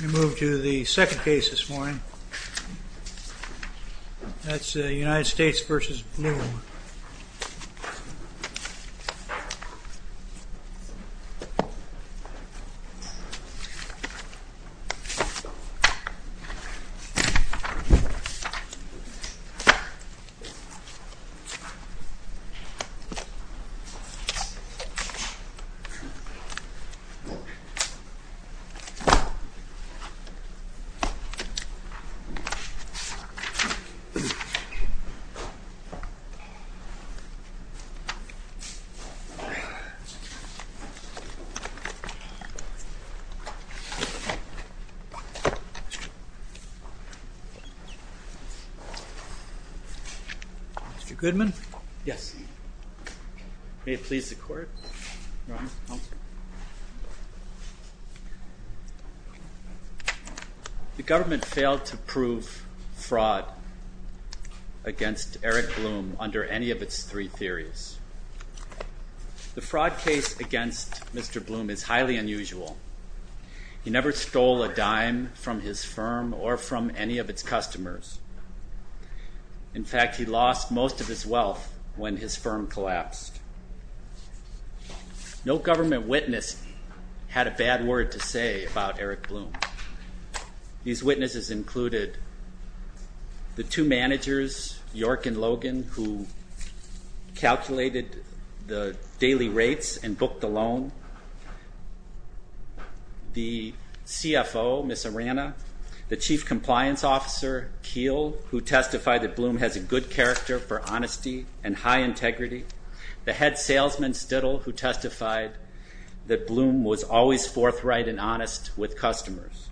We move to the second case this morning, that's United States v. Bloom. Mr. Goodman, may it please the court. The government failed to prove fraud against Eric Bloom under any of its three theories. The fraud case against Mr. Bloom is highly unusual. He never stole a dime from his firm or from any of its customers. In fact, he lost most of his wealth when his firm collapsed. No government witness had a bad word to say about Eric Bloom. These witnesses included the two managers, York and Logan, who calculated the daily rates and booked the loan. The CFO, Ms. Arana, the Chief Compliance Officer, Keel, who testified that Bloom has a good character for honesty and high integrity. The head salesman, Stittle, who testified that Bloom was always forthright and honest with customers.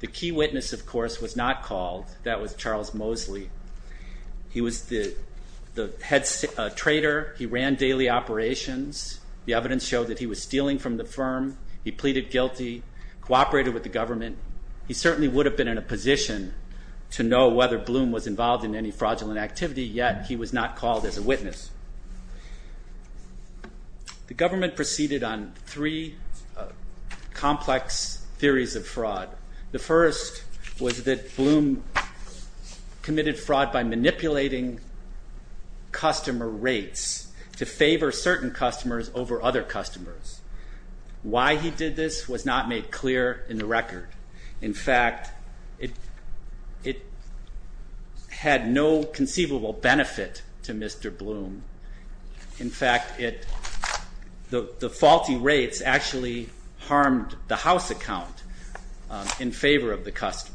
The key witness, of course, was not called. That was Charles Mosley. He was the head trader. He ran daily operations. The evidence showed that he was stealing from the firm. He pleaded guilty, cooperated with the government. He certainly would have been in a position to know whether Bloom was involved in any fraudulent activity, yet he was not called as a witness. The government proceeded on three complex theories of fraud. The first was that Bloom committed fraud by manipulating customer rates to favor certain customers over other customers. Why he did this was not made clear in the record. In fact, it had no conceivable benefit to Mr. Bloom. In fact, the faulty rates actually harmed the house account in favor of the customers.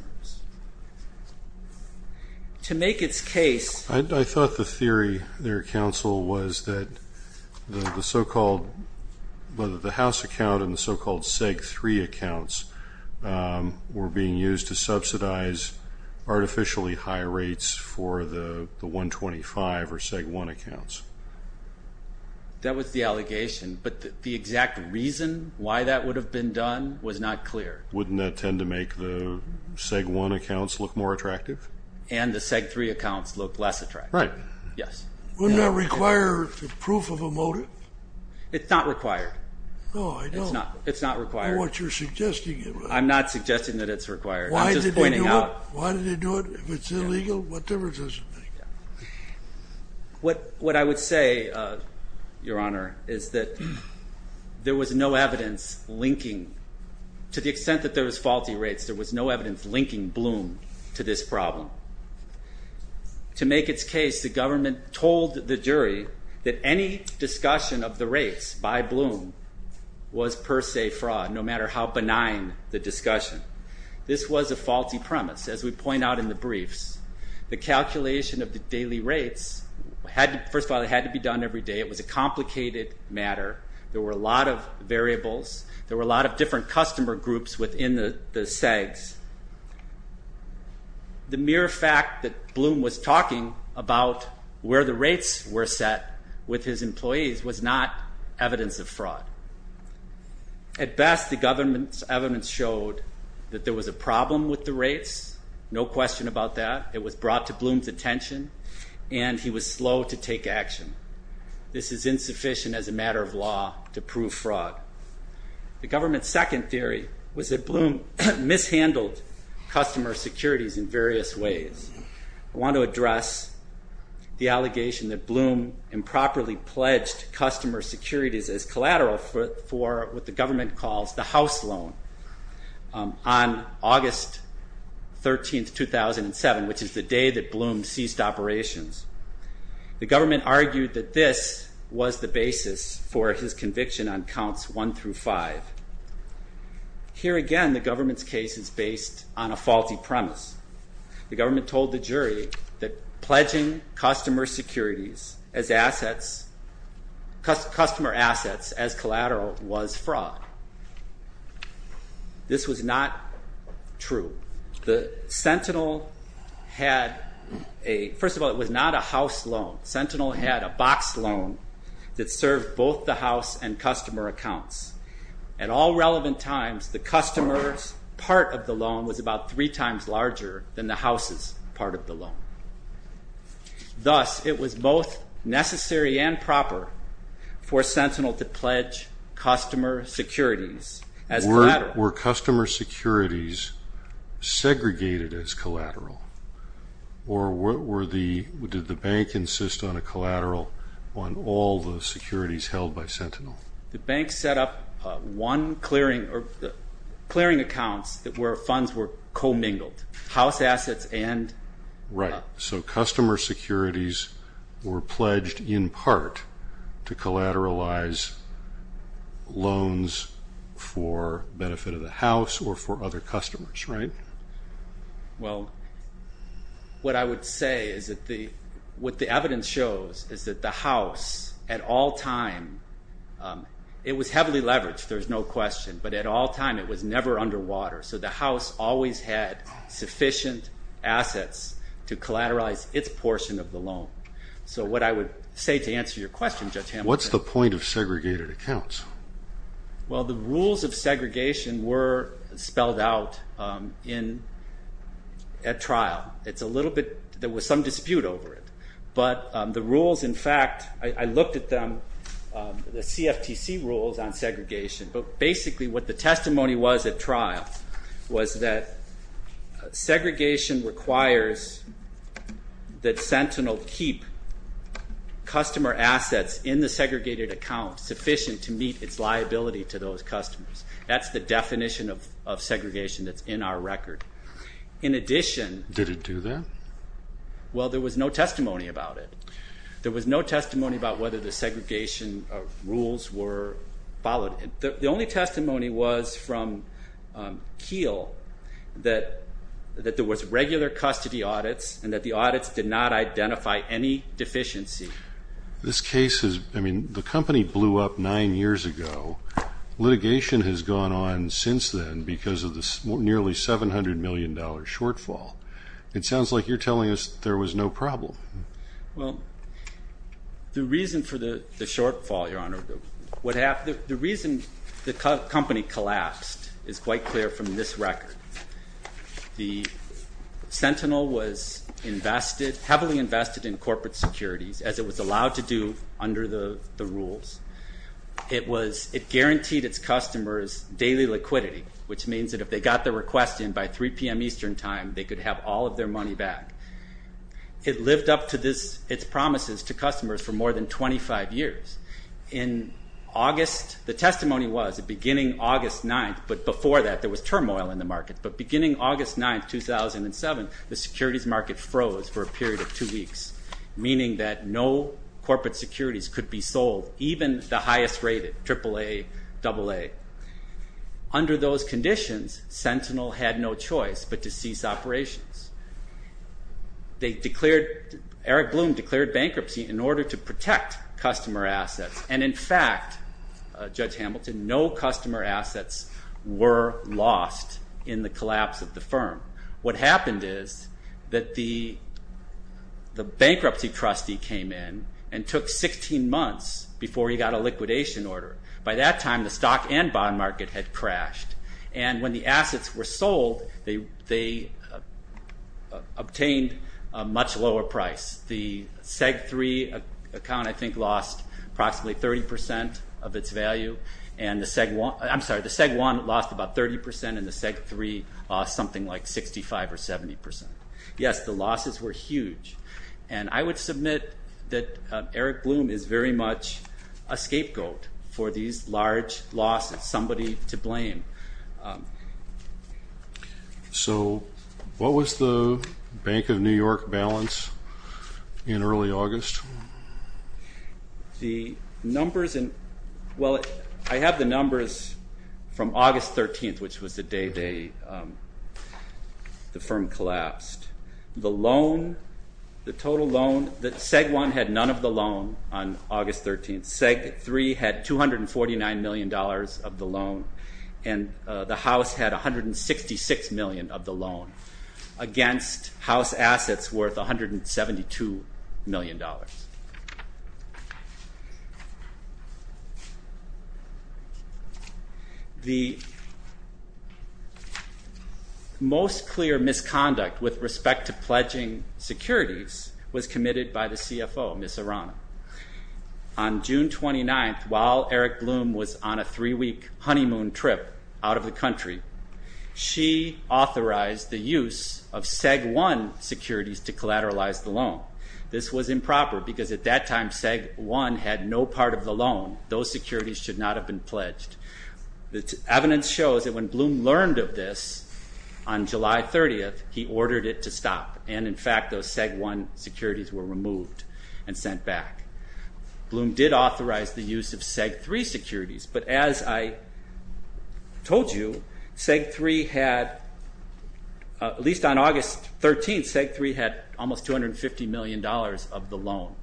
To make its case- I thought the theory there, counsel, was that the so-called-whether the house account and the so-called seg-3 accounts were being used to subsidize artificially high rates for the 125 or seg-1 accounts. That was the allegation, but the exact reason why that would have been done was not clear. Wouldn't that tend to make the seg-1 accounts look more attractive? And the seg-3 accounts look less attractive. Right. Yes. Wouldn't that require the proof of a motive? It's not required. No, I don't. It's not required. I know what you're suggesting. I'm not suggesting that it's required. I'm just pointing out- Why did they do it? Why did they do it? If it's illegal, what difference does it make? What I would say, Your Honor, is that there was no evidence linking-to the extent that there was faulty rates, there was no evidence linking Bloom to this problem. To make its case, the government told the jury that any discussion of the rates by Bloom was per se fraud, no matter how benign the discussion. This was a faulty premise, as we point out in the briefs. The calculation of the daily rates-first of all, it had to be done every day. It was a complicated matter. There were a lot of variables. There were a lot of different customer groups within the SEGS. The mere fact that Bloom was talking about where the rates were set with his employees was not evidence of fraud. At best, the government's evidence showed that there was a problem with the rates, no question about that. It was brought to Bloom's attention, and he was slow to take action. This is insufficient as a matter of law to prove fraud. The government's second theory was that Bloom mishandled customer securities in various ways. I want to address the allegation that Bloom improperly pledged customer securities as collateral for what the government calls the house loan on August 13, 2007, which is the day that Bloom ceased operations. The government argued that this was the basis for his conviction on counts one through five. Here again, the government's case is based on a faulty premise. The government told the jury that pledging customer securities as assets, customer assets as collateral, was fraud. This was not true. First of all, it was not a house loan. Sentinel had a box loan that served both the house and customer accounts. At all relevant times, the customer's part of the loan was about three times larger than the house's part of the loan. Thus, it was both necessary and proper for Sentinel to pledge customer securities as collateral. But were customer securities segregated as collateral? Or did the bank insist on a collateral on all the securities held by Sentinel? The bank set up one clearing accounts where funds were commingled, house assets and- Right. So customer securities were pledged in part to collateralize loans for benefit of the house or for other customers, right? Well, what I would say is that what the evidence shows is that the house, at all time, it was heavily leveraged. There's no question. But at all time, it was never underwater. So the house always had sufficient assets to collateralize its portion of the loan. So what I would say to answer your question, Judge Hamilton- What's the point of segregated accounts? Well, the rules of segregation were spelled out at trial. There was some dispute over it. But the rules, in fact, I looked at them, the CFTC rules on segregation. But basically what the testimony was at trial was that segregation requires that Sentinel keep customer assets in the segregated account sufficient to meet its liability to those customers. That's the definition of segregation that's in our record. In addition- Did it do that? Well, there was no testimony about it. The only testimony was from Keele that there was regular custody audits and that the audits did not identify any deficiency. This case is, I mean, the company blew up nine years ago. Litigation has gone on since then because of the nearly $700 million shortfall. It sounds like you're telling us there was no problem. Well, the reason for the shortfall, Your Honor, the reason the company collapsed is quite clear from this record. The Sentinel was heavily invested in corporate securities, as it was allowed to do under the rules. It guaranteed its customers daily liquidity, which means that if they got their request in by 3 p.m. Eastern time, they could have all of their money back. It lived up to its promises to customers for more than 25 years. In August, the testimony was that beginning August 9th, but before that there was turmoil in the market, but beginning August 9th, 2007, the securities market froze for a period of two weeks, meaning that no corporate securities could be sold, even the highest rated, triple A, double A. Under those conditions, Sentinel had no choice but to cease operations. Eric Bloom declared bankruptcy in order to protect customer assets. In fact, Judge Hamilton, no customer assets were lost in the collapse of the firm. What happened is that the bankruptcy trustee came in and took 16 months before he got a liquidation order. By that time, the stock and bond market had crashed. When the assets were sold, they obtained a much lower price. The Seg 3 account, I think, lost approximately 30 percent of its value, and the Seg 1 lost about 30 percent, and the Seg 3 lost something like 65 or 70 percent. Yes, the losses were huge, and I would submit that Eric Bloom is very much a scapegoat for these large losses, and I don't want somebody to blame. So what was the Bank of New York balance in early August? The numbers in, well, I have the numbers from August 13th, which was the day the firm collapsed. The loan, the total loan, the Seg 1 had none of the loan on August 13th. The Seg 3 had $249 million of the loan, and the house had $166 million of the loan, against house assets worth $172 million. The most clear misconduct with respect to pledging securities was committed by the CFO, Ms. Arana. On June 29th, while Eric Bloom was on a three-week honeymoon trip out of the country, she authorized the use of Seg 1 securities to collateralize the loan. This was improper, because at that time, Seg 1 had no part of the loan. Those securities should not have been pledged. The evidence shows that when Bloom learned of this on July 30th, he ordered it to stop, and in fact, those Seg 1 securities were removed and sent back. Bloom did authorize the use of Seg 3 securities, but as I told you, Seg 3 had, at least on August 13th, Seg 3 had almost $250 million of the loan.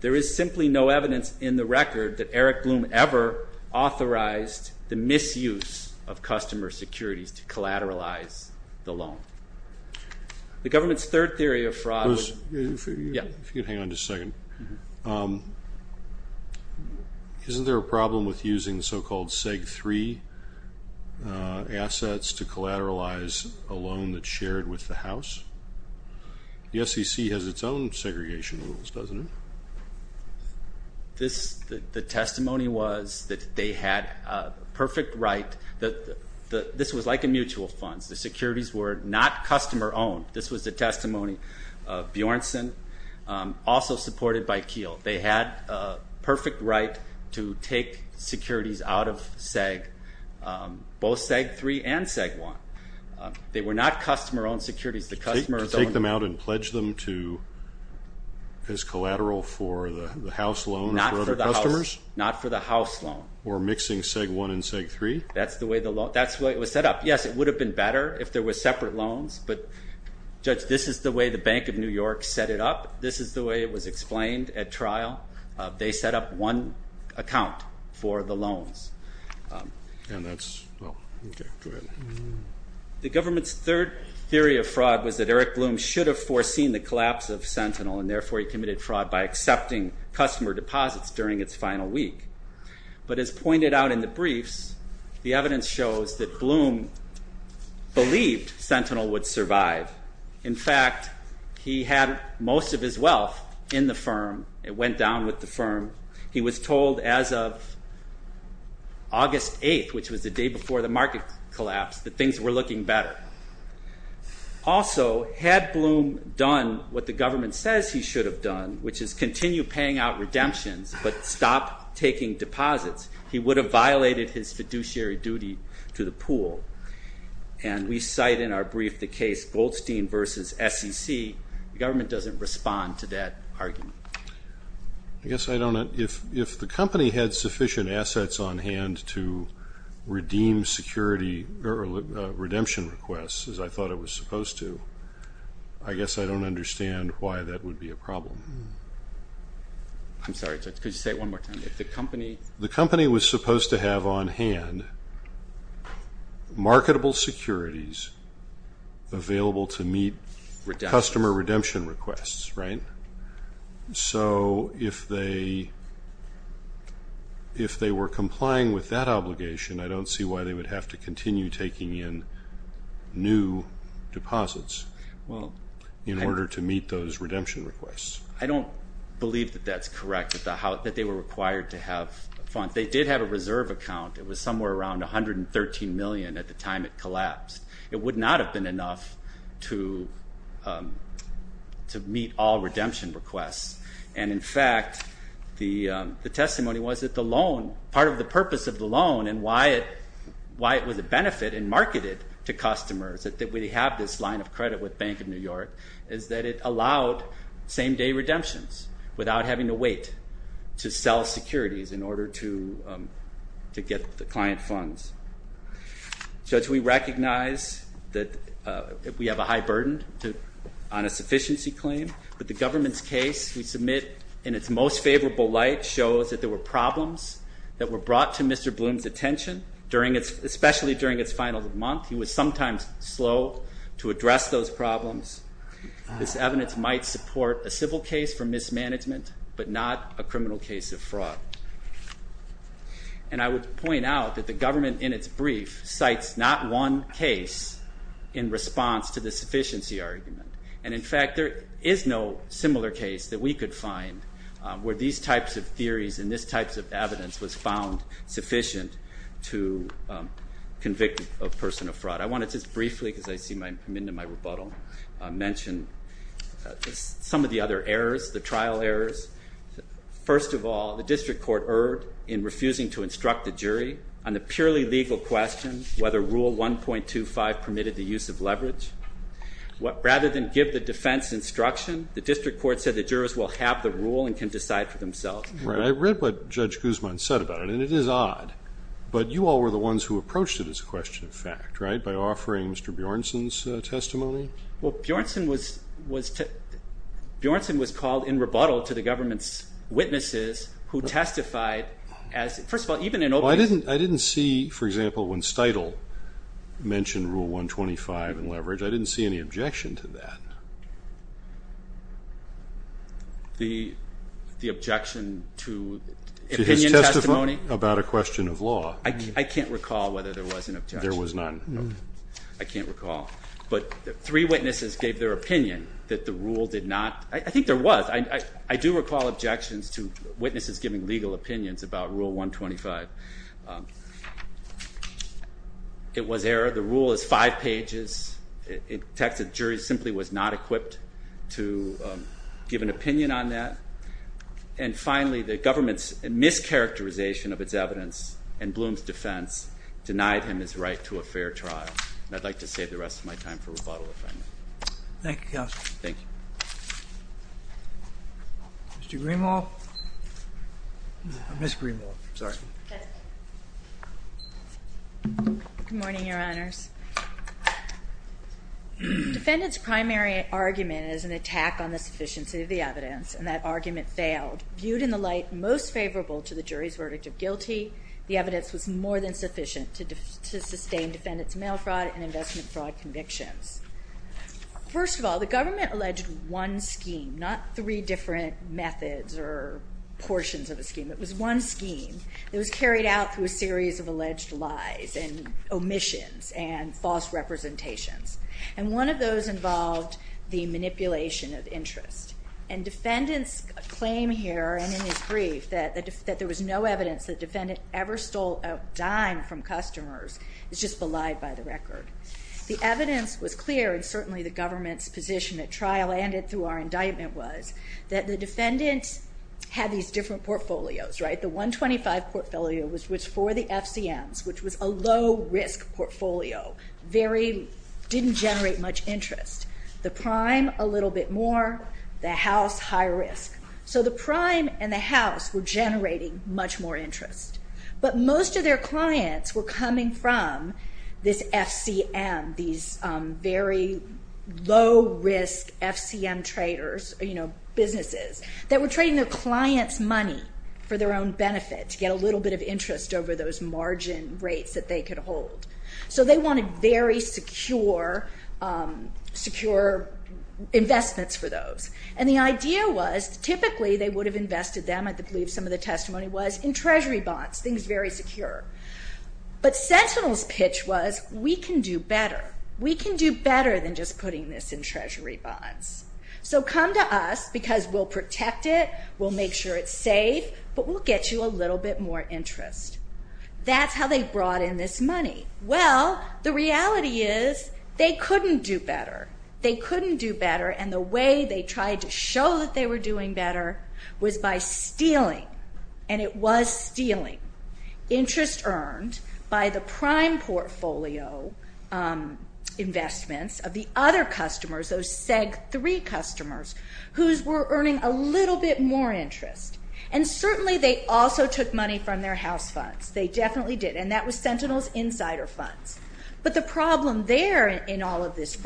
There is simply no evidence in the record that Eric Bloom ever authorized the misuse of customer securities to collateralize the loan. The government's third theory of fraud was... Bruce, if you could hang on just a second. Isn't there a problem with using so-called Seg 3 assets to collateralize a loan that's shared with the house? The SEC has its own segregation rules, doesn't it? The testimony was that they had a perfect right. This was like a mutual fund. The securities were not customer-owned. This was the testimony of Bjornsson, also supported by Kiel. They had a perfect right to take securities out of Seg, both Seg 3 and Seg 1. They were not customer-owned securities. To take them out and pledge them as collateral for the house loan or for other customers? Not for the house loan. Or mixing Seg 1 and Seg 3? That's the way it was set up. Yes, it would have been better if there were separate loans. But, Judge, this is the way the Bank of New York set it up. This is the way it was explained at trial. They set up one account for the loans. The government's third theory of fraud was that Eric Bloom should have foreseen the collapse of Sentinel, and therefore he committed fraud by accepting customer deposits during its final week. But as pointed out in the briefs, the evidence shows that Bloom believed Sentinel would survive. In fact, he had most of his wealth in the firm. It went down with the firm. He was told as of August 8th, which was the day before the market collapsed, that things were looking better. Also, had Bloom done what the government says he should have done, which is continue paying out redemptions but stop taking deposits, he would have violated his fiduciary duty to the pool. And we cite in our brief the case Goldstein v. SEC. The government doesn't respond to that argument. I guess I don't know. If the company had sufficient assets on hand to redeem security or redemption requests, as I thought it was supposed to, I guess I don't understand why that would be a problem. I'm sorry. Could you say it one more time? If the company was supposed to have on hand marketable securities available to meet customer redemption requests, right, so if they were complying with that obligation, I don't see why they would have to continue taking in new deposits in order to meet those redemption requests. I don't believe that that's correct, that they were required to have funds. They did have a reserve account. It was somewhere around $113 million at the time it collapsed. It would not have been enough to meet all redemption requests. And, in fact, the testimony was that the loan, part of the purpose of the loan and why it was a benefit and marketed to customers, that we have this line of credit with Bank of New York, is that it allowed same-day redemptions without having to wait to sell securities in order to get the client funds. Judge, we recognize that we have a high burden on a sufficiency claim, but the government's case we submit in its most favorable light shows that there were problems that were brought to Mr. Bloom's attention, especially during its final month. He was sometimes slow to address those problems. This evidence might support a civil case for mismanagement but not a criminal case of fraud. And I would point out that the government in its brief cites not one case in response to the sufficiency argument. And, in fact, there is no similar case that we could find where these types of theories and this types of evidence was found sufficient to convict a person of fraud. I want to just briefly, because I see I'm into my rebuttal, mention some of the other errors, the trial errors. First of all, the district court erred in refusing to instruct the jury on the purely legal question whether Rule 1.25 permitted the use of leverage. Rather than give the defense instruction, the district court said the jurors will have the rule and can decide for themselves. I read what Judge Guzman said about it, and it is odd, but you all were the ones who approached it as a question of fact, right, by offering Mr. Bjornsson's testimony? Well, Bjornsson was called in rebuttal to the government's witnesses who testified as, first of all, I didn't see, for example, when Steitel mentioned Rule 1.25 and leverage, I didn't see any objection to that. The objection to opinion testimony? To his testimony about a question of law. I can't recall whether there was an objection. There was none. I can't recall. But three witnesses gave their opinion that the rule did not, I think there was, I do recall objections to witnesses giving legal opinions about Rule 1.25. It was error. The rule is five pages. It attacks that the jury simply was not equipped to give an opinion on that. And finally, the government's mischaracterization of its evidence and Bloom's defense denied him his right to a fair trial. And I'd like to save the rest of my time for rebuttal if I may. Thank you, Counsel. Thank you. Mr. Greenwald? Ms. Greenwald. Good morning, Your Honors. Defendant's primary argument is an attack on the sufficiency of the evidence, and that argument failed. Viewed in the light most favorable to the jury's verdict of guilty, the evidence was more than sufficient to sustain defendant's mail fraud and investment fraud convictions. First of all, the government alleged one scheme, not three different methods or portions of a scheme. It was one scheme. It was carried out through a series of alleged lies and omissions and false representations. And one of those involved the manipulation of interest. And defendant's claim here and in his brief that there was no evidence the defendant ever stole a dime from customers is just belied by the record. The evidence was clear, and certainly the government's position at trial and through our indictment was, that the defendant had these different portfolios, right? The 125 portfolio was for the FCMs, which was a low-risk portfolio. Didn't generate much interest. The prime, a little bit more. The house, high risk. So the prime and the house were generating much more interest. But most of their clients were coming from this FCM, these very low-risk FCM traders, you know, businesses, that were trading their clients' money for their own benefit, to get a little bit of interest over those margin rates that they could hold. So they wanted very secure investments for those. And the idea was, typically they would have invested them, I believe some of the testimony was, in treasury bonds. Things very secure. But Sentinel's pitch was, we can do better. We can do better than just putting this in treasury bonds. So come to us, because we'll protect it, we'll make sure it's safe, but we'll get you a little bit more interest. That's how they brought in this money. Well, the reality is, they couldn't do better. They couldn't do better, and the way they tried to show that they were doing better was by stealing. And it was stealing. Interest earned by the prime portfolio investments of the other customers, those seg-3 customers, whose were earning a little bit more interest. And certainly they also took money from their house funds. They definitely did. And that was Sentinel's insider funds. But the problem there in all of this,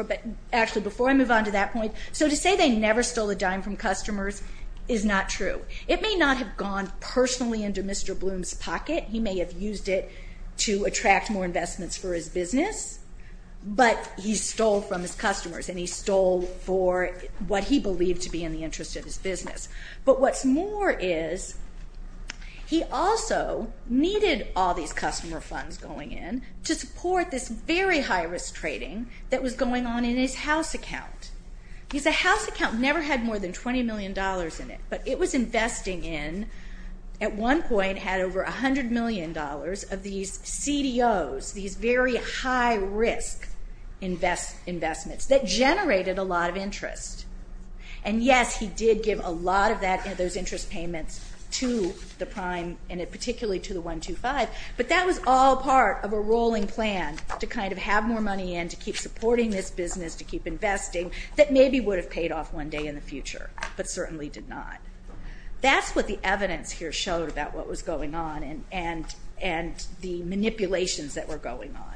actually before I move on to that point, so to say they never stole a dime from customers is not true. It may not have gone personally into Mr. Bloom's pocket. He may have used it to attract more investments for his business. But he stole from his customers, and he stole for what he believed to be in the interest of his business. But what's more is he also needed all these customer funds going in to support this very high-risk trading that was going on in his house account. Because the house account never had more than $20 million in it, but it was investing in, at one point, had over $100 million of these CDOs, these very high-risk investments that generated a lot of interest. And yes, he did give a lot of those interest payments to the prime, and particularly to the 125. But that was all part of a rolling plan to kind of have more money in, to keep supporting this business, to keep investing, that maybe would have paid off one day in the future, but certainly did not. That's what the evidence here showed about what was going on and the manipulations that were going on.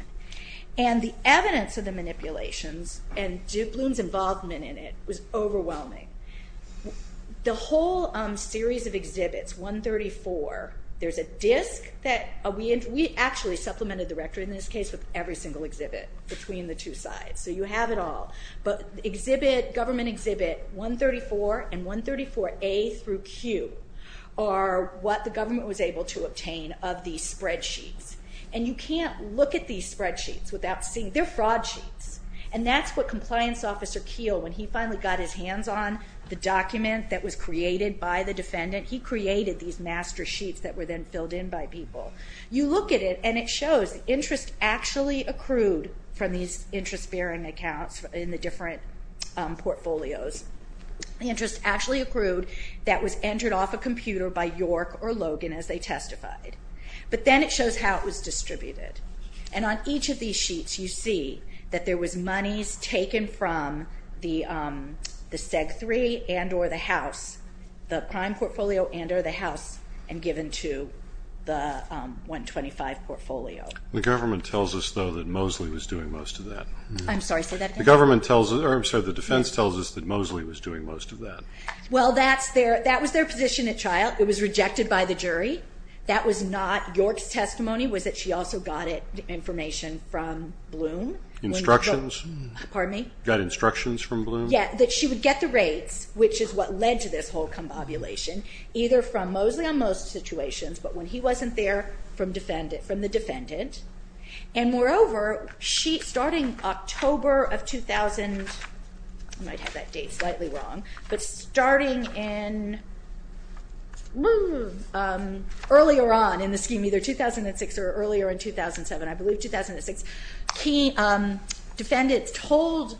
And the evidence of the manipulations, and Bloom's involvement in it, was overwhelming. The whole series of exhibits, 134, there's a disk that we actually supplemented the record in this case with every single exhibit between the two sides. So you have it all. But government exhibit 134 and 134A through Q are what the government was able to obtain of these spreadsheets. And you can't look at these spreadsheets without seeing, they're fraud sheets. And that's what Compliance Officer Keele, when he finally got his hands on the document that was created by the defendant, he created these master sheets that were then filled in by people. You look at it, and it shows interest actually accrued from these interest-bearing accounts in the different portfolios. Interest actually accrued that was entered off a computer by York or Logan as they testified. But then it shows how it was distributed. And on each of these sheets you see that there was monies taken from the SEG-3 and or the house, the prime portfolio and or the house, and given to the 125 portfolio. The government tells us, though, that Mosley was doing most of that. I'm sorry, say that again? The government tells us, or I'm sorry, the defense tells us that Mosley was doing most of that. Well, that was their position at trial. It was rejected by the jury. That was not York's testimony. It was that she also got information from Bloom. Instructions? Pardon me? Got instructions from Bloom? Yeah, that she would get the rates, which is what led to this whole convobulation, either from Mosley on most situations, but when he wasn't there, from the defendant. And moreover, starting October of 2000, I might have that date slightly wrong, but starting in earlier on in the scheme, either 2006 or earlier in 2007, I believe 2006, defendants told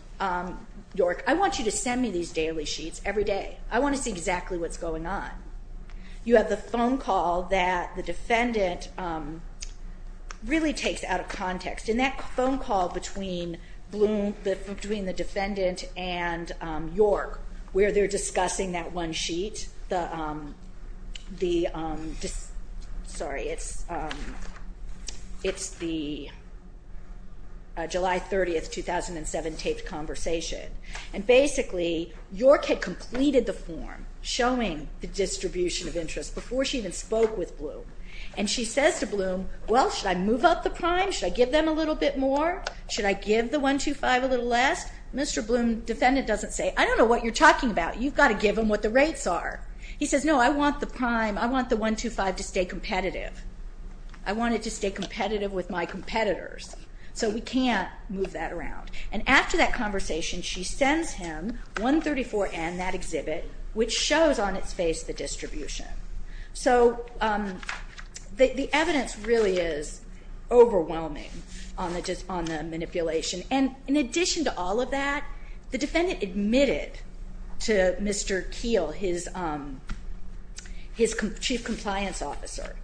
York, I want you to send me these daily sheets every day. I want to see exactly what's going on. You have the phone call that the defendant really takes out of context, and that phone call between Bloom, between the defendant and York, where they're discussing that one sheet, the, sorry, it's the July 30, 2007, taped conversation. And basically, York had completed the form showing the distribution of interest before she even spoke with Bloom. And she says to Bloom, well, should I move up the prime? Should I give them a little bit more? Should I give the 125 a little less? Mr. Bloom, defendant, doesn't say, I don't know what you're talking about. You've got to give them what the rates are. He says, no, I want the prime, I want the 125 to stay competitive. I want it to stay competitive with my competitors. So we can't move that around. And after that conversation, she sends him 134N, that exhibit, which shows on its face the distribution. So the evidence really is overwhelming on the manipulation. And in addition to all of that, the defendant admitted to Mr. Keel, his chief compliance officer,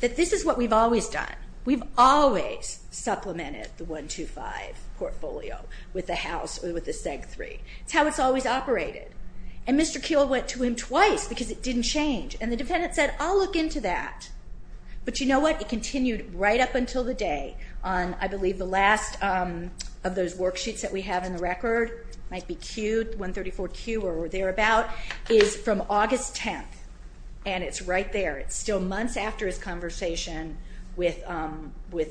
that this is what we've always done. We've always supplemented the 125 portfolio with the house or with the seg three. It's how it's always operated. And Mr. Keel went to him twice because it didn't change. And the defendant said, I'll look into that. But you know what? It continued right up until the day on, I believe, the last of those worksheets that we have in the record, might be 134Q or thereabout, is from August 10th, and it's right there. It's still months after his conversation with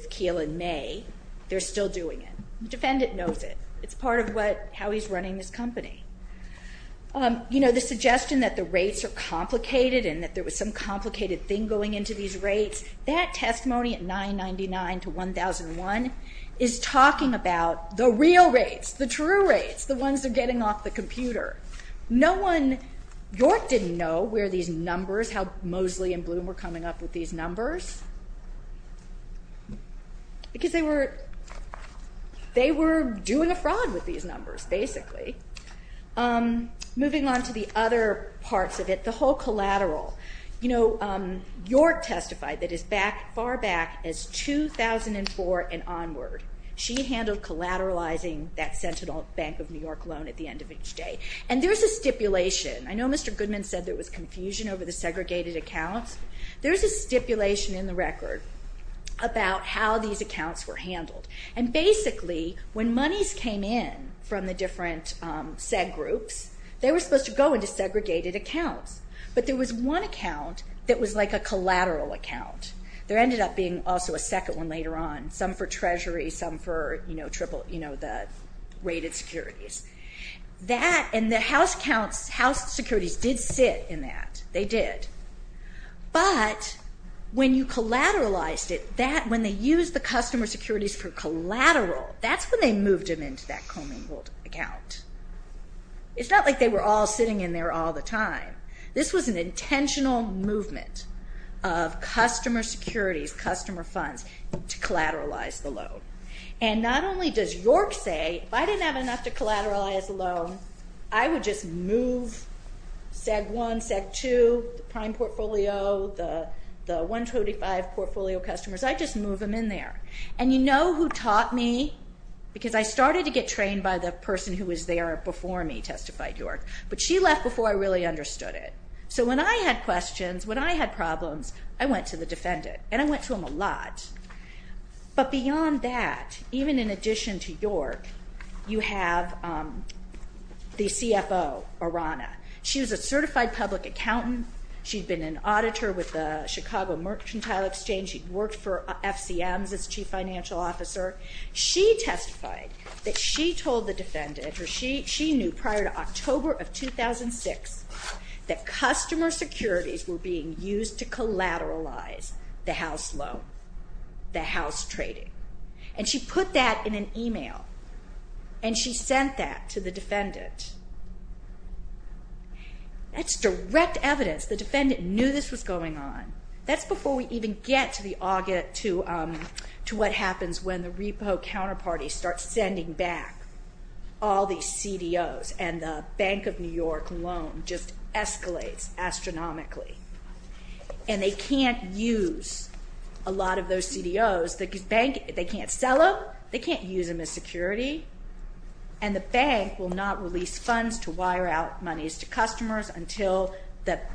Keel and May. They're still doing it. The defendant knows it. It's part of how he's running this company. You know, the suggestion that the rates are complicated and that there was some complicated thing going into these rates, that testimony at 999 to 1001 is talking about the real rates, the true rates, the ones that are getting off the computer. York didn't know where these numbers, how Mosley and Bloom were coming up with these numbers because they were doing a fraud with these numbers, basically. Moving on to the other parts of it, the whole collateral. You know, York testified that as far back as 2004 and onward, she handled collateralizing that Sentinel Bank of New York loan at the end of each day, and there's a stipulation. I know Mr. Goodman said there was confusion over the segregated accounts. There's a stipulation in the record about how these accounts were handled, and basically when monies came in from the different seg groups, they were supposed to go into segregated accounts, but there was one account that was like a collateral account. There ended up being also a second one later on, some for Treasury, some for the rated securities. And the house securities did sit in that. They did. But when you collateralized it, when they used the customer securities for collateral, that's when they moved them into that commingled account. It's not like they were all sitting in there all the time. This was an intentional movement of customer securities, customer funds, to collateralize the loan. And not only does York say, if I didn't have enough to collateralize the loan, I would just move seg one, seg two, prime portfolio, the 135 portfolio customers. I'd just move them in there. And you know who taught me? Because I started to get trained by the person who was there before me, testified York. But she left before I really understood it. So when I had questions, when I had problems, I went to the defendant, and I went to him a lot. But beyond that, even in addition to York, you have the CFO, Arana. She was a certified public accountant. She'd been an auditor with the Chicago Merchantile Exchange. She'd worked for FCMs as chief financial officer. She testified that she told the defendant, or she knew prior to October of 2006, that customer securities were being used to collateralize the house loan, the house trading. And she put that in an email, and she sent that to the defendant. That's direct evidence. The defendant knew this was going on. That's before we even get to what happens when the repo counterparty starts sending back all these CDOs and the Bank of New York loan just escalates astronomically. And they can't use a lot of those CDOs. They can't sell them. They can't use them as security. And the bank will not release funds to wire out monies to customers until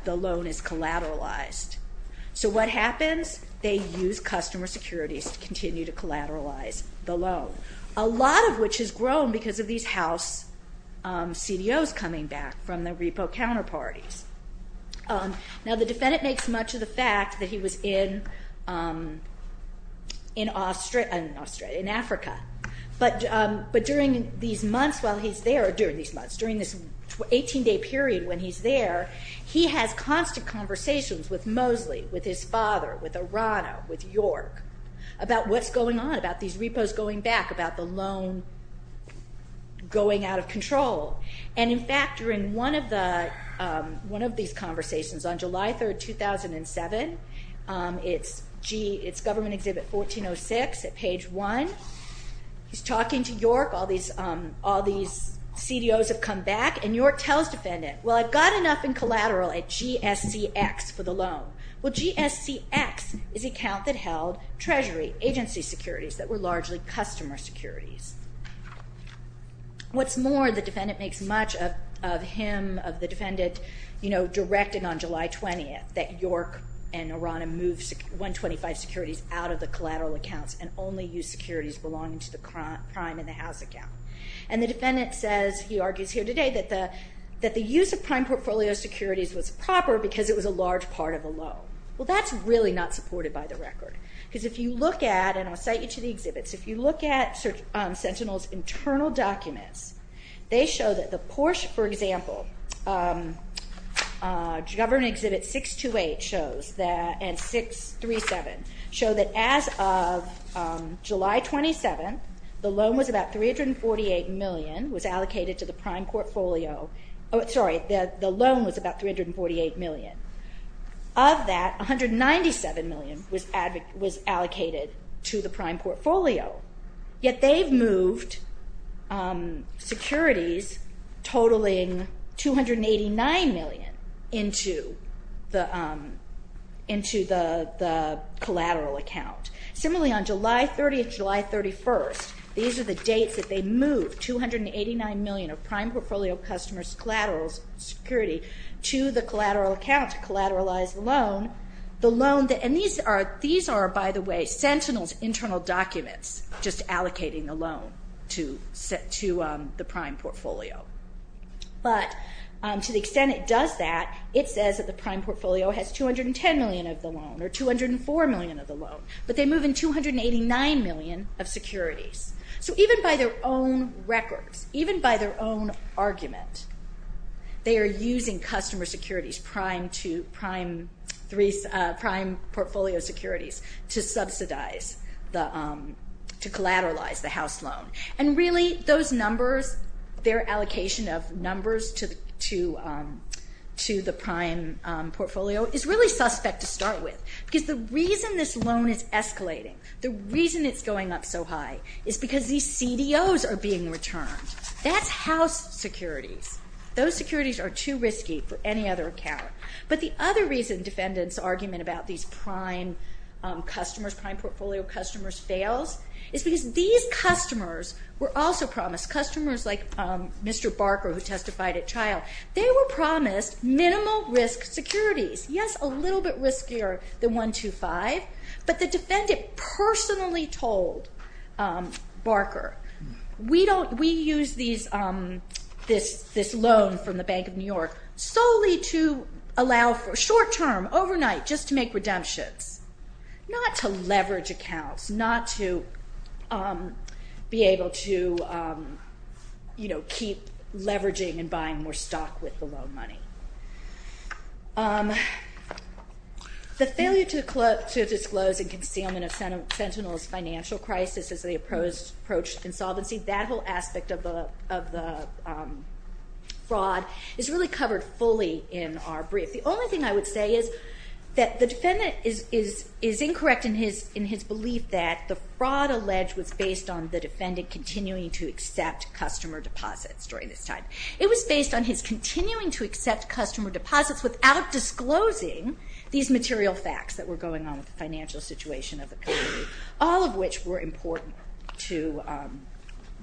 the loan is collateralized. So what happens? They use customer securities to continue to collateralize the loan, a lot of which has grown because of these house CDOs coming back from the repo counterparties. Now, the defendant makes much of the fact that he was in Africa. But during these months while he's there, during this 18-day period when he's there, he has constant conversations with Mosley, with his father, with Arano, with York, about what's going on, about these repos going back, about the loan going out of control. And, in fact, during one of these conversations on July 3, 2007, it's Government Exhibit 1406 at page 1, he's talking to York, all these CDOs have come back, and York tells the defendant, well, I've got enough in collateral at GSCX for the loan. Well, GSCX is the account that held treasury agency securities that were largely customer securities. What's more, the defendant makes much of him, of the defendant, you know, directed on July 20th that York and Arano move 125 securities out of the collateral accounts and only use securities belonging to the prime and the house account. And the defendant says, he argues here today, that the use of prime portfolio securities was proper because it was a large part of the loan. Well, that's really not supported by the record because if you look at, and I'll cite you to the exhibits, if you look at Sentinel's internal documents, they show that the Porsche, for example, Government Exhibit 628 shows, and 637, show that as of July 27th, the loan was about $348 million, was allocated to the prime portfolio. Sorry, the loan was about $348 million. Of that, $197 million was allocated to the prime portfolio, yet they've moved securities totaling $289 million into the collateral account. Similarly, on July 30th, July 31st, these are the dates that they moved $289 million of prime portfolio customers' collateral security to the collateral account to collateralize the loan. And these are, by the way, Sentinel's internal documents, just allocating the loan to the prime portfolio. But to the extent it does that, it says that the prime portfolio has $210 million of the loan or $204 million of the loan, but they move in $289 million of securities. So even by their own records, even by their own argument, they are using customer securities, prime portfolio securities, to subsidize, to collateralize the house loan. And really, those numbers, their allocation of numbers to the prime portfolio, is really suspect to start with, because the reason this loan is escalating, the reason it's going up so high, is because these CDOs are being returned. That's house securities. Those securities are too risky for any other account. But the other reason defendants' argument about these prime customers, prime portfolio customers' fails, is because these customers were also promised, customers like Mr. Barker, who testified at trial, they were promised minimal risk securities. Yes, a little bit riskier than 125, but the defendant personally told Barker, we use this loan from the Bank of New York solely to allow for short-term, overnight, just to make redemptions, not to leverage accounts, not to be able to keep leveraging and buying more stock with the loan money. The failure to disclose and concealment of Sentinel's financial crisis as they approached insolvency, that whole aspect of the fraud is really covered fully in our brief. The only thing I would say is that the defendant is incorrect in his belief that the fraud alleged was based on the defendant continuing to accept customer deposits during this time. It was based on his continuing to accept customer deposits without disclosing these material facts that were going on with the financial situation of the company, all of which were important to the customers.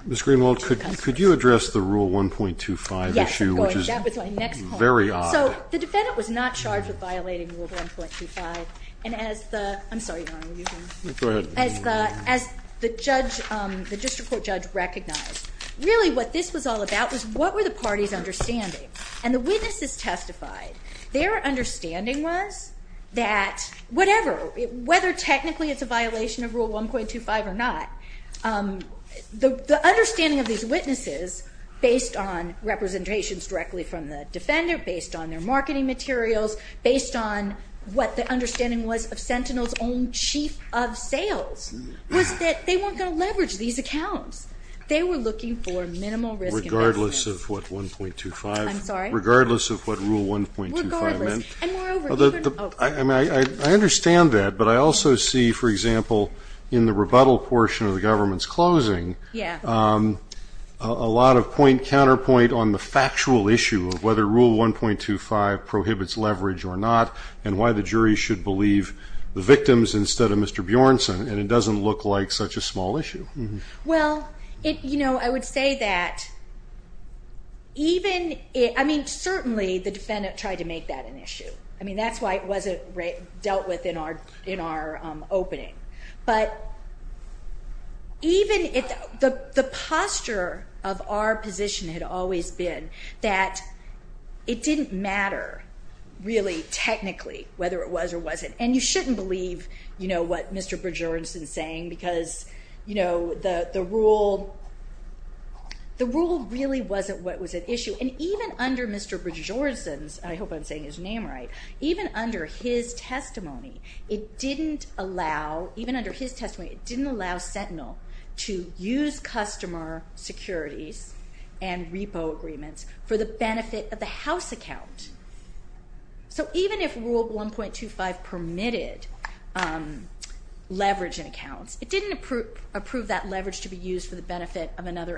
Ms. Greenwald, could you address the Rule 1.25 issue? Yes, of course. That was my next point. Very odd. So the defendant was not charged with violating Rule 1.25, and as the ‑‑ I'm sorry, Your Honor. Go ahead. As the district court judge recognized, really what this was all about was what were the parties' understanding? And the witnesses testified. Their understanding was that whatever, whether technically it's a violation of Rule 1.25 or not, the understanding of these witnesses based on representations directly from the defendant, based on their marketing materials, based on what the understanding was of Sentinel's own chief of sales, was that they weren't going to leverage these accounts. They were looking for minimal risk investment. Regardless of what 1.25? I'm sorry? Regardless of what Rule 1.25 meant? Regardless. And moreover, even ‑‑ I understand that, but I also see, for example, in the rebuttal portion of the government's closing, a lot of counterpoint on the factual issue of whether Rule 1.25 prohibits leverage or not and why the jury should believe the victims instead of Mr. Bjornson, and it doesn't look like such a small issue. Well, you know, I would say that even ‑‑ I mean, certainly the defendant tried to make that an issue. I mean, that's why it wasn't dealt with in our opening. But even if the posture of our position had always been that it didn't matter really technically whether it was or wasn't, and you shouldn't believe, you know, what Mr. Bjornson is saying because, you know, the rule really wasn't what was at issue. And even under Mr. Bjornson's, I hope I'm saying his name right, even under his testimony, it didn't allow, even under his testimony, it didn't allow Sentinel to use customer securities and repo agreements for the benefit of the house account. So even if Rule 1.25 permitted leverage in accounts, it didn't approve that leverage to be used for the benefit of another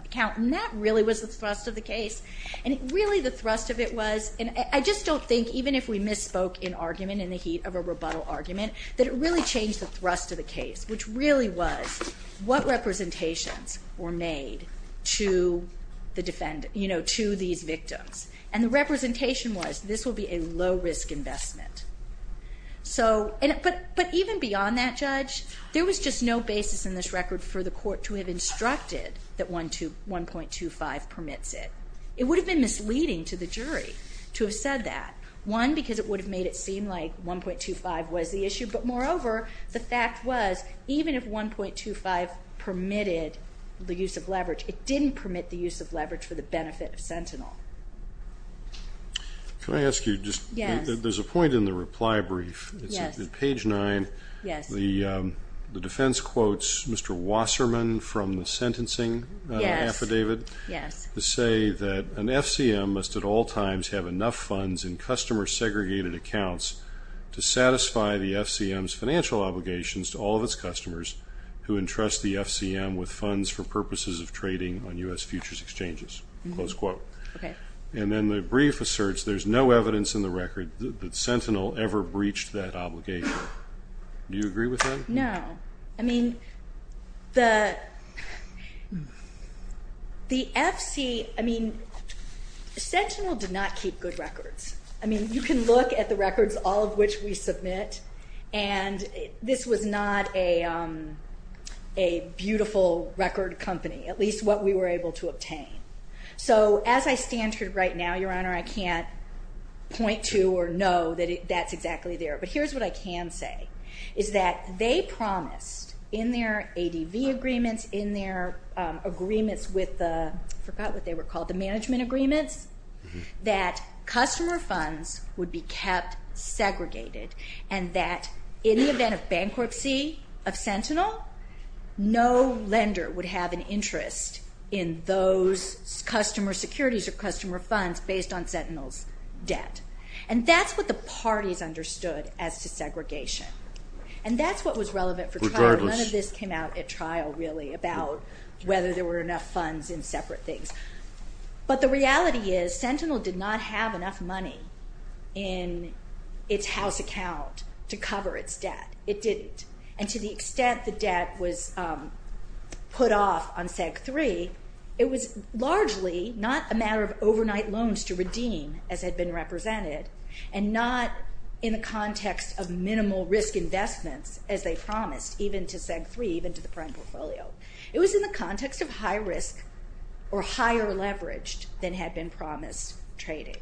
account, and that really was the thrust of the case. And really the thrust of it was, and I just don't think even if we misspoke in argument in the heat of a rebuttal argument, that it really changed the thrust of the case, which really was what representations were made to the defendant, you know, to these victims. And the representation was this will be a low‑risk investment. So, but even beyond that, Judge, there was just no basis in this record for the court to have instructed that 1.25 permits it. It would have been misleading to the jury to have said that. One, because it would have made it seem like 1.25 was the issue, but moreover, the fact was, even if 1.25 permitted the use of leverage, it didn't permit the use of leverage for the benefit of Sentinel. Can I ask you just ‑‑ Yes. There's a point in the reply brief. Yes. It's page 9. Yes. The defense quotes Mr. Wasserman from the sentencing affidavit. Yes. Yes. To say that an FCM must at all times have enough funds in customer segregated accounts to satisfy the FCM's financial obligations to all of its customers who entrust the FCM with funds for purposes of trading on U.S. futures exchanges. Close quote. Okay. And then the brief asserts there's no evidence in the record that Sentinel ever breached that obligation. Do you agree with that? No. I mean, the FC, I mean, Sentinel did not keep good records. I mean, you can look at the records, all of which we submit, and this was not a beautiful record company, at least what we were able to obtain. So as I stand here right now, Your Honor, I can't point to or know that that's exactly there. But here's what I can say, is that they promised in their ADV agreements, in their agreements with the, I forgot what they were called, the management agreements, that customer funds would be kept segregated and that in the event of bankruptcy of Sentinel, no lender would have an interest in those customer securities or customer funds based on Sentinel's debt. And that's what the parties understood as to segregation. And that's what was relevant for trial. None of this came out at trial, really, about whether there were enough funds in separate things. But the reality is Sentinel did not have enough money in its house account to cover its debt. It didn't. And to the extent the debt was put off on SEG-3, it was largely not a matter of overnight loans to redeem, as had been represented, and not in the context of minimal risk investments, as they promised, even to SEG-3, even to the prime portfolio. It was in the context of high risk or higher leveraged than had been promised trading.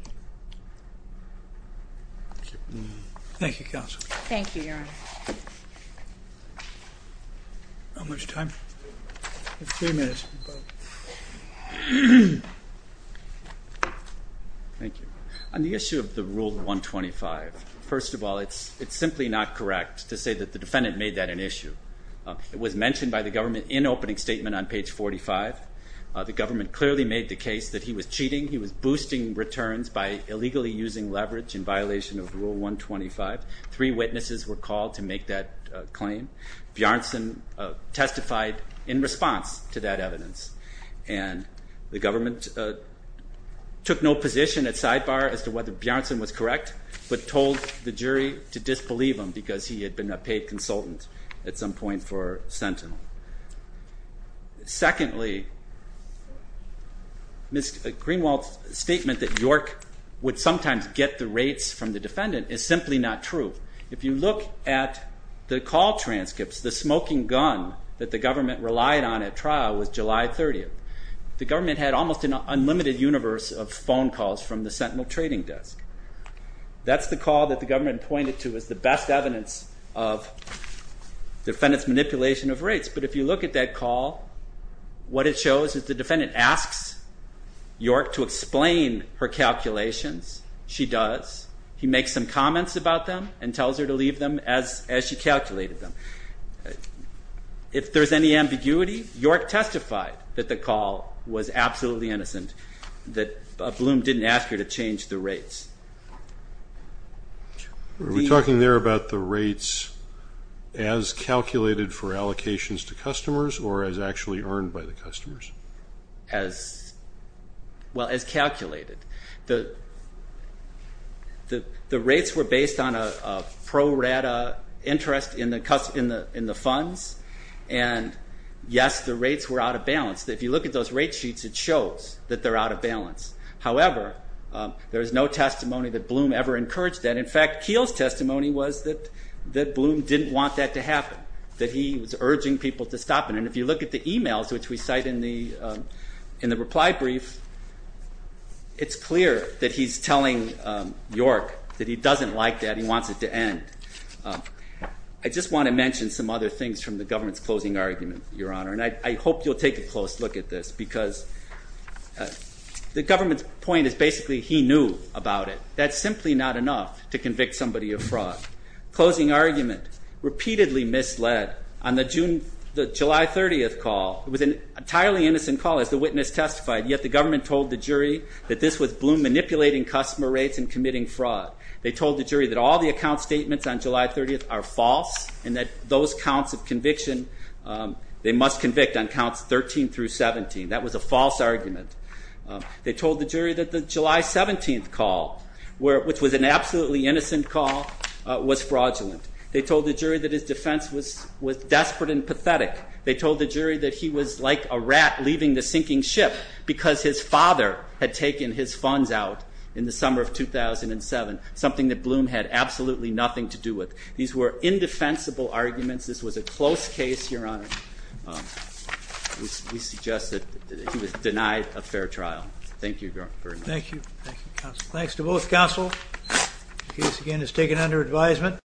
Thank you, Counsel. Thank you, Your Honor. How much time? Three minutes. Thank you. On the issue of the Rule 125, first of all, it's simply not correct to say that the defendant made that an issue. It was mentioned by the government in opening statement on page 45. The government clearly made the case that he was cheating. He was boosting returns by illegally using leverage in violation of Rule 125. Three witnesses were called to make that claim. Bjornsson testified in response to that evidence. And the government took no position at sidebar as to whether Bjornsson was correct, but told the jury to disbelieve him because he had been a paid consultant at some point for Sentinel. Secondly, Ms. Greenwald's statement that York would sometimes get the rates from the defendant is simply not true. If you look at the call transcripts, the smoking gun that the government relied on at trial was July 30th. The government had almost an unlimited universe of phone calls from the Sentinel trading desk. That's the call that the government pointed to as the best evidence of defendant's manipulation of rates. But if you look at that call, what it shows is the defendant asks York to explain her calculations. She does. He makes some comments about them and tells her to leave them as she calculated them. If there's any ambiguity, York testified that the call was absolutely innocent, that Bloom didn't ask her to change the rates. Are we talking there about the rates as calculated for allocations to customers or as actually earned by the customers? As calculated. The rates were based on a pro-rata interest in the funds, and yes, the rates were out of balance. If you look at those rate sheets, it shows that they're out of balance. However, there is no testimony that Bloom ever encouraged that. In fact, Keel's testimony was that Bloom didn't want that to happen, that he was urging people to stop it. If you look at the emails which we cite in the reply brief, it's clear that he's telling York that he doesn't like that. He wants it to end. I just want to mention some other things from the government's closing argument, Your Honor, and I hope you'll take a close look at this because the government's point is basically he knew about it. That's simply not enough to convict somebody of fraud. Closing argument, repeatedly misled on the July 30th call. It was an entirely innocent call as the witness testified, yet the government told the jury that this was Bloom manipulating customer rates and committing fraud. They told the jury that all the account statements on July 30th are false and that those counts of conviction, they must convict on counts 13 through 17. That was a false argument. They told the jury that the July 17th call, which was an absolutely innocent call, was fraudulent. They told the jury that his defense was desperate and pathetic. They told the jury that he was like a rat leaving the sinking ship because his father had taken his funds out in the summer of 2007, something that Bloom had absolutely nothing to do with. These were indefensible arguments. This was a close case, Your Honor. We suggest that he was denied a fair trial. Thank you very much. Thank you. Thanks to both counsel. The case again is taken under advisement.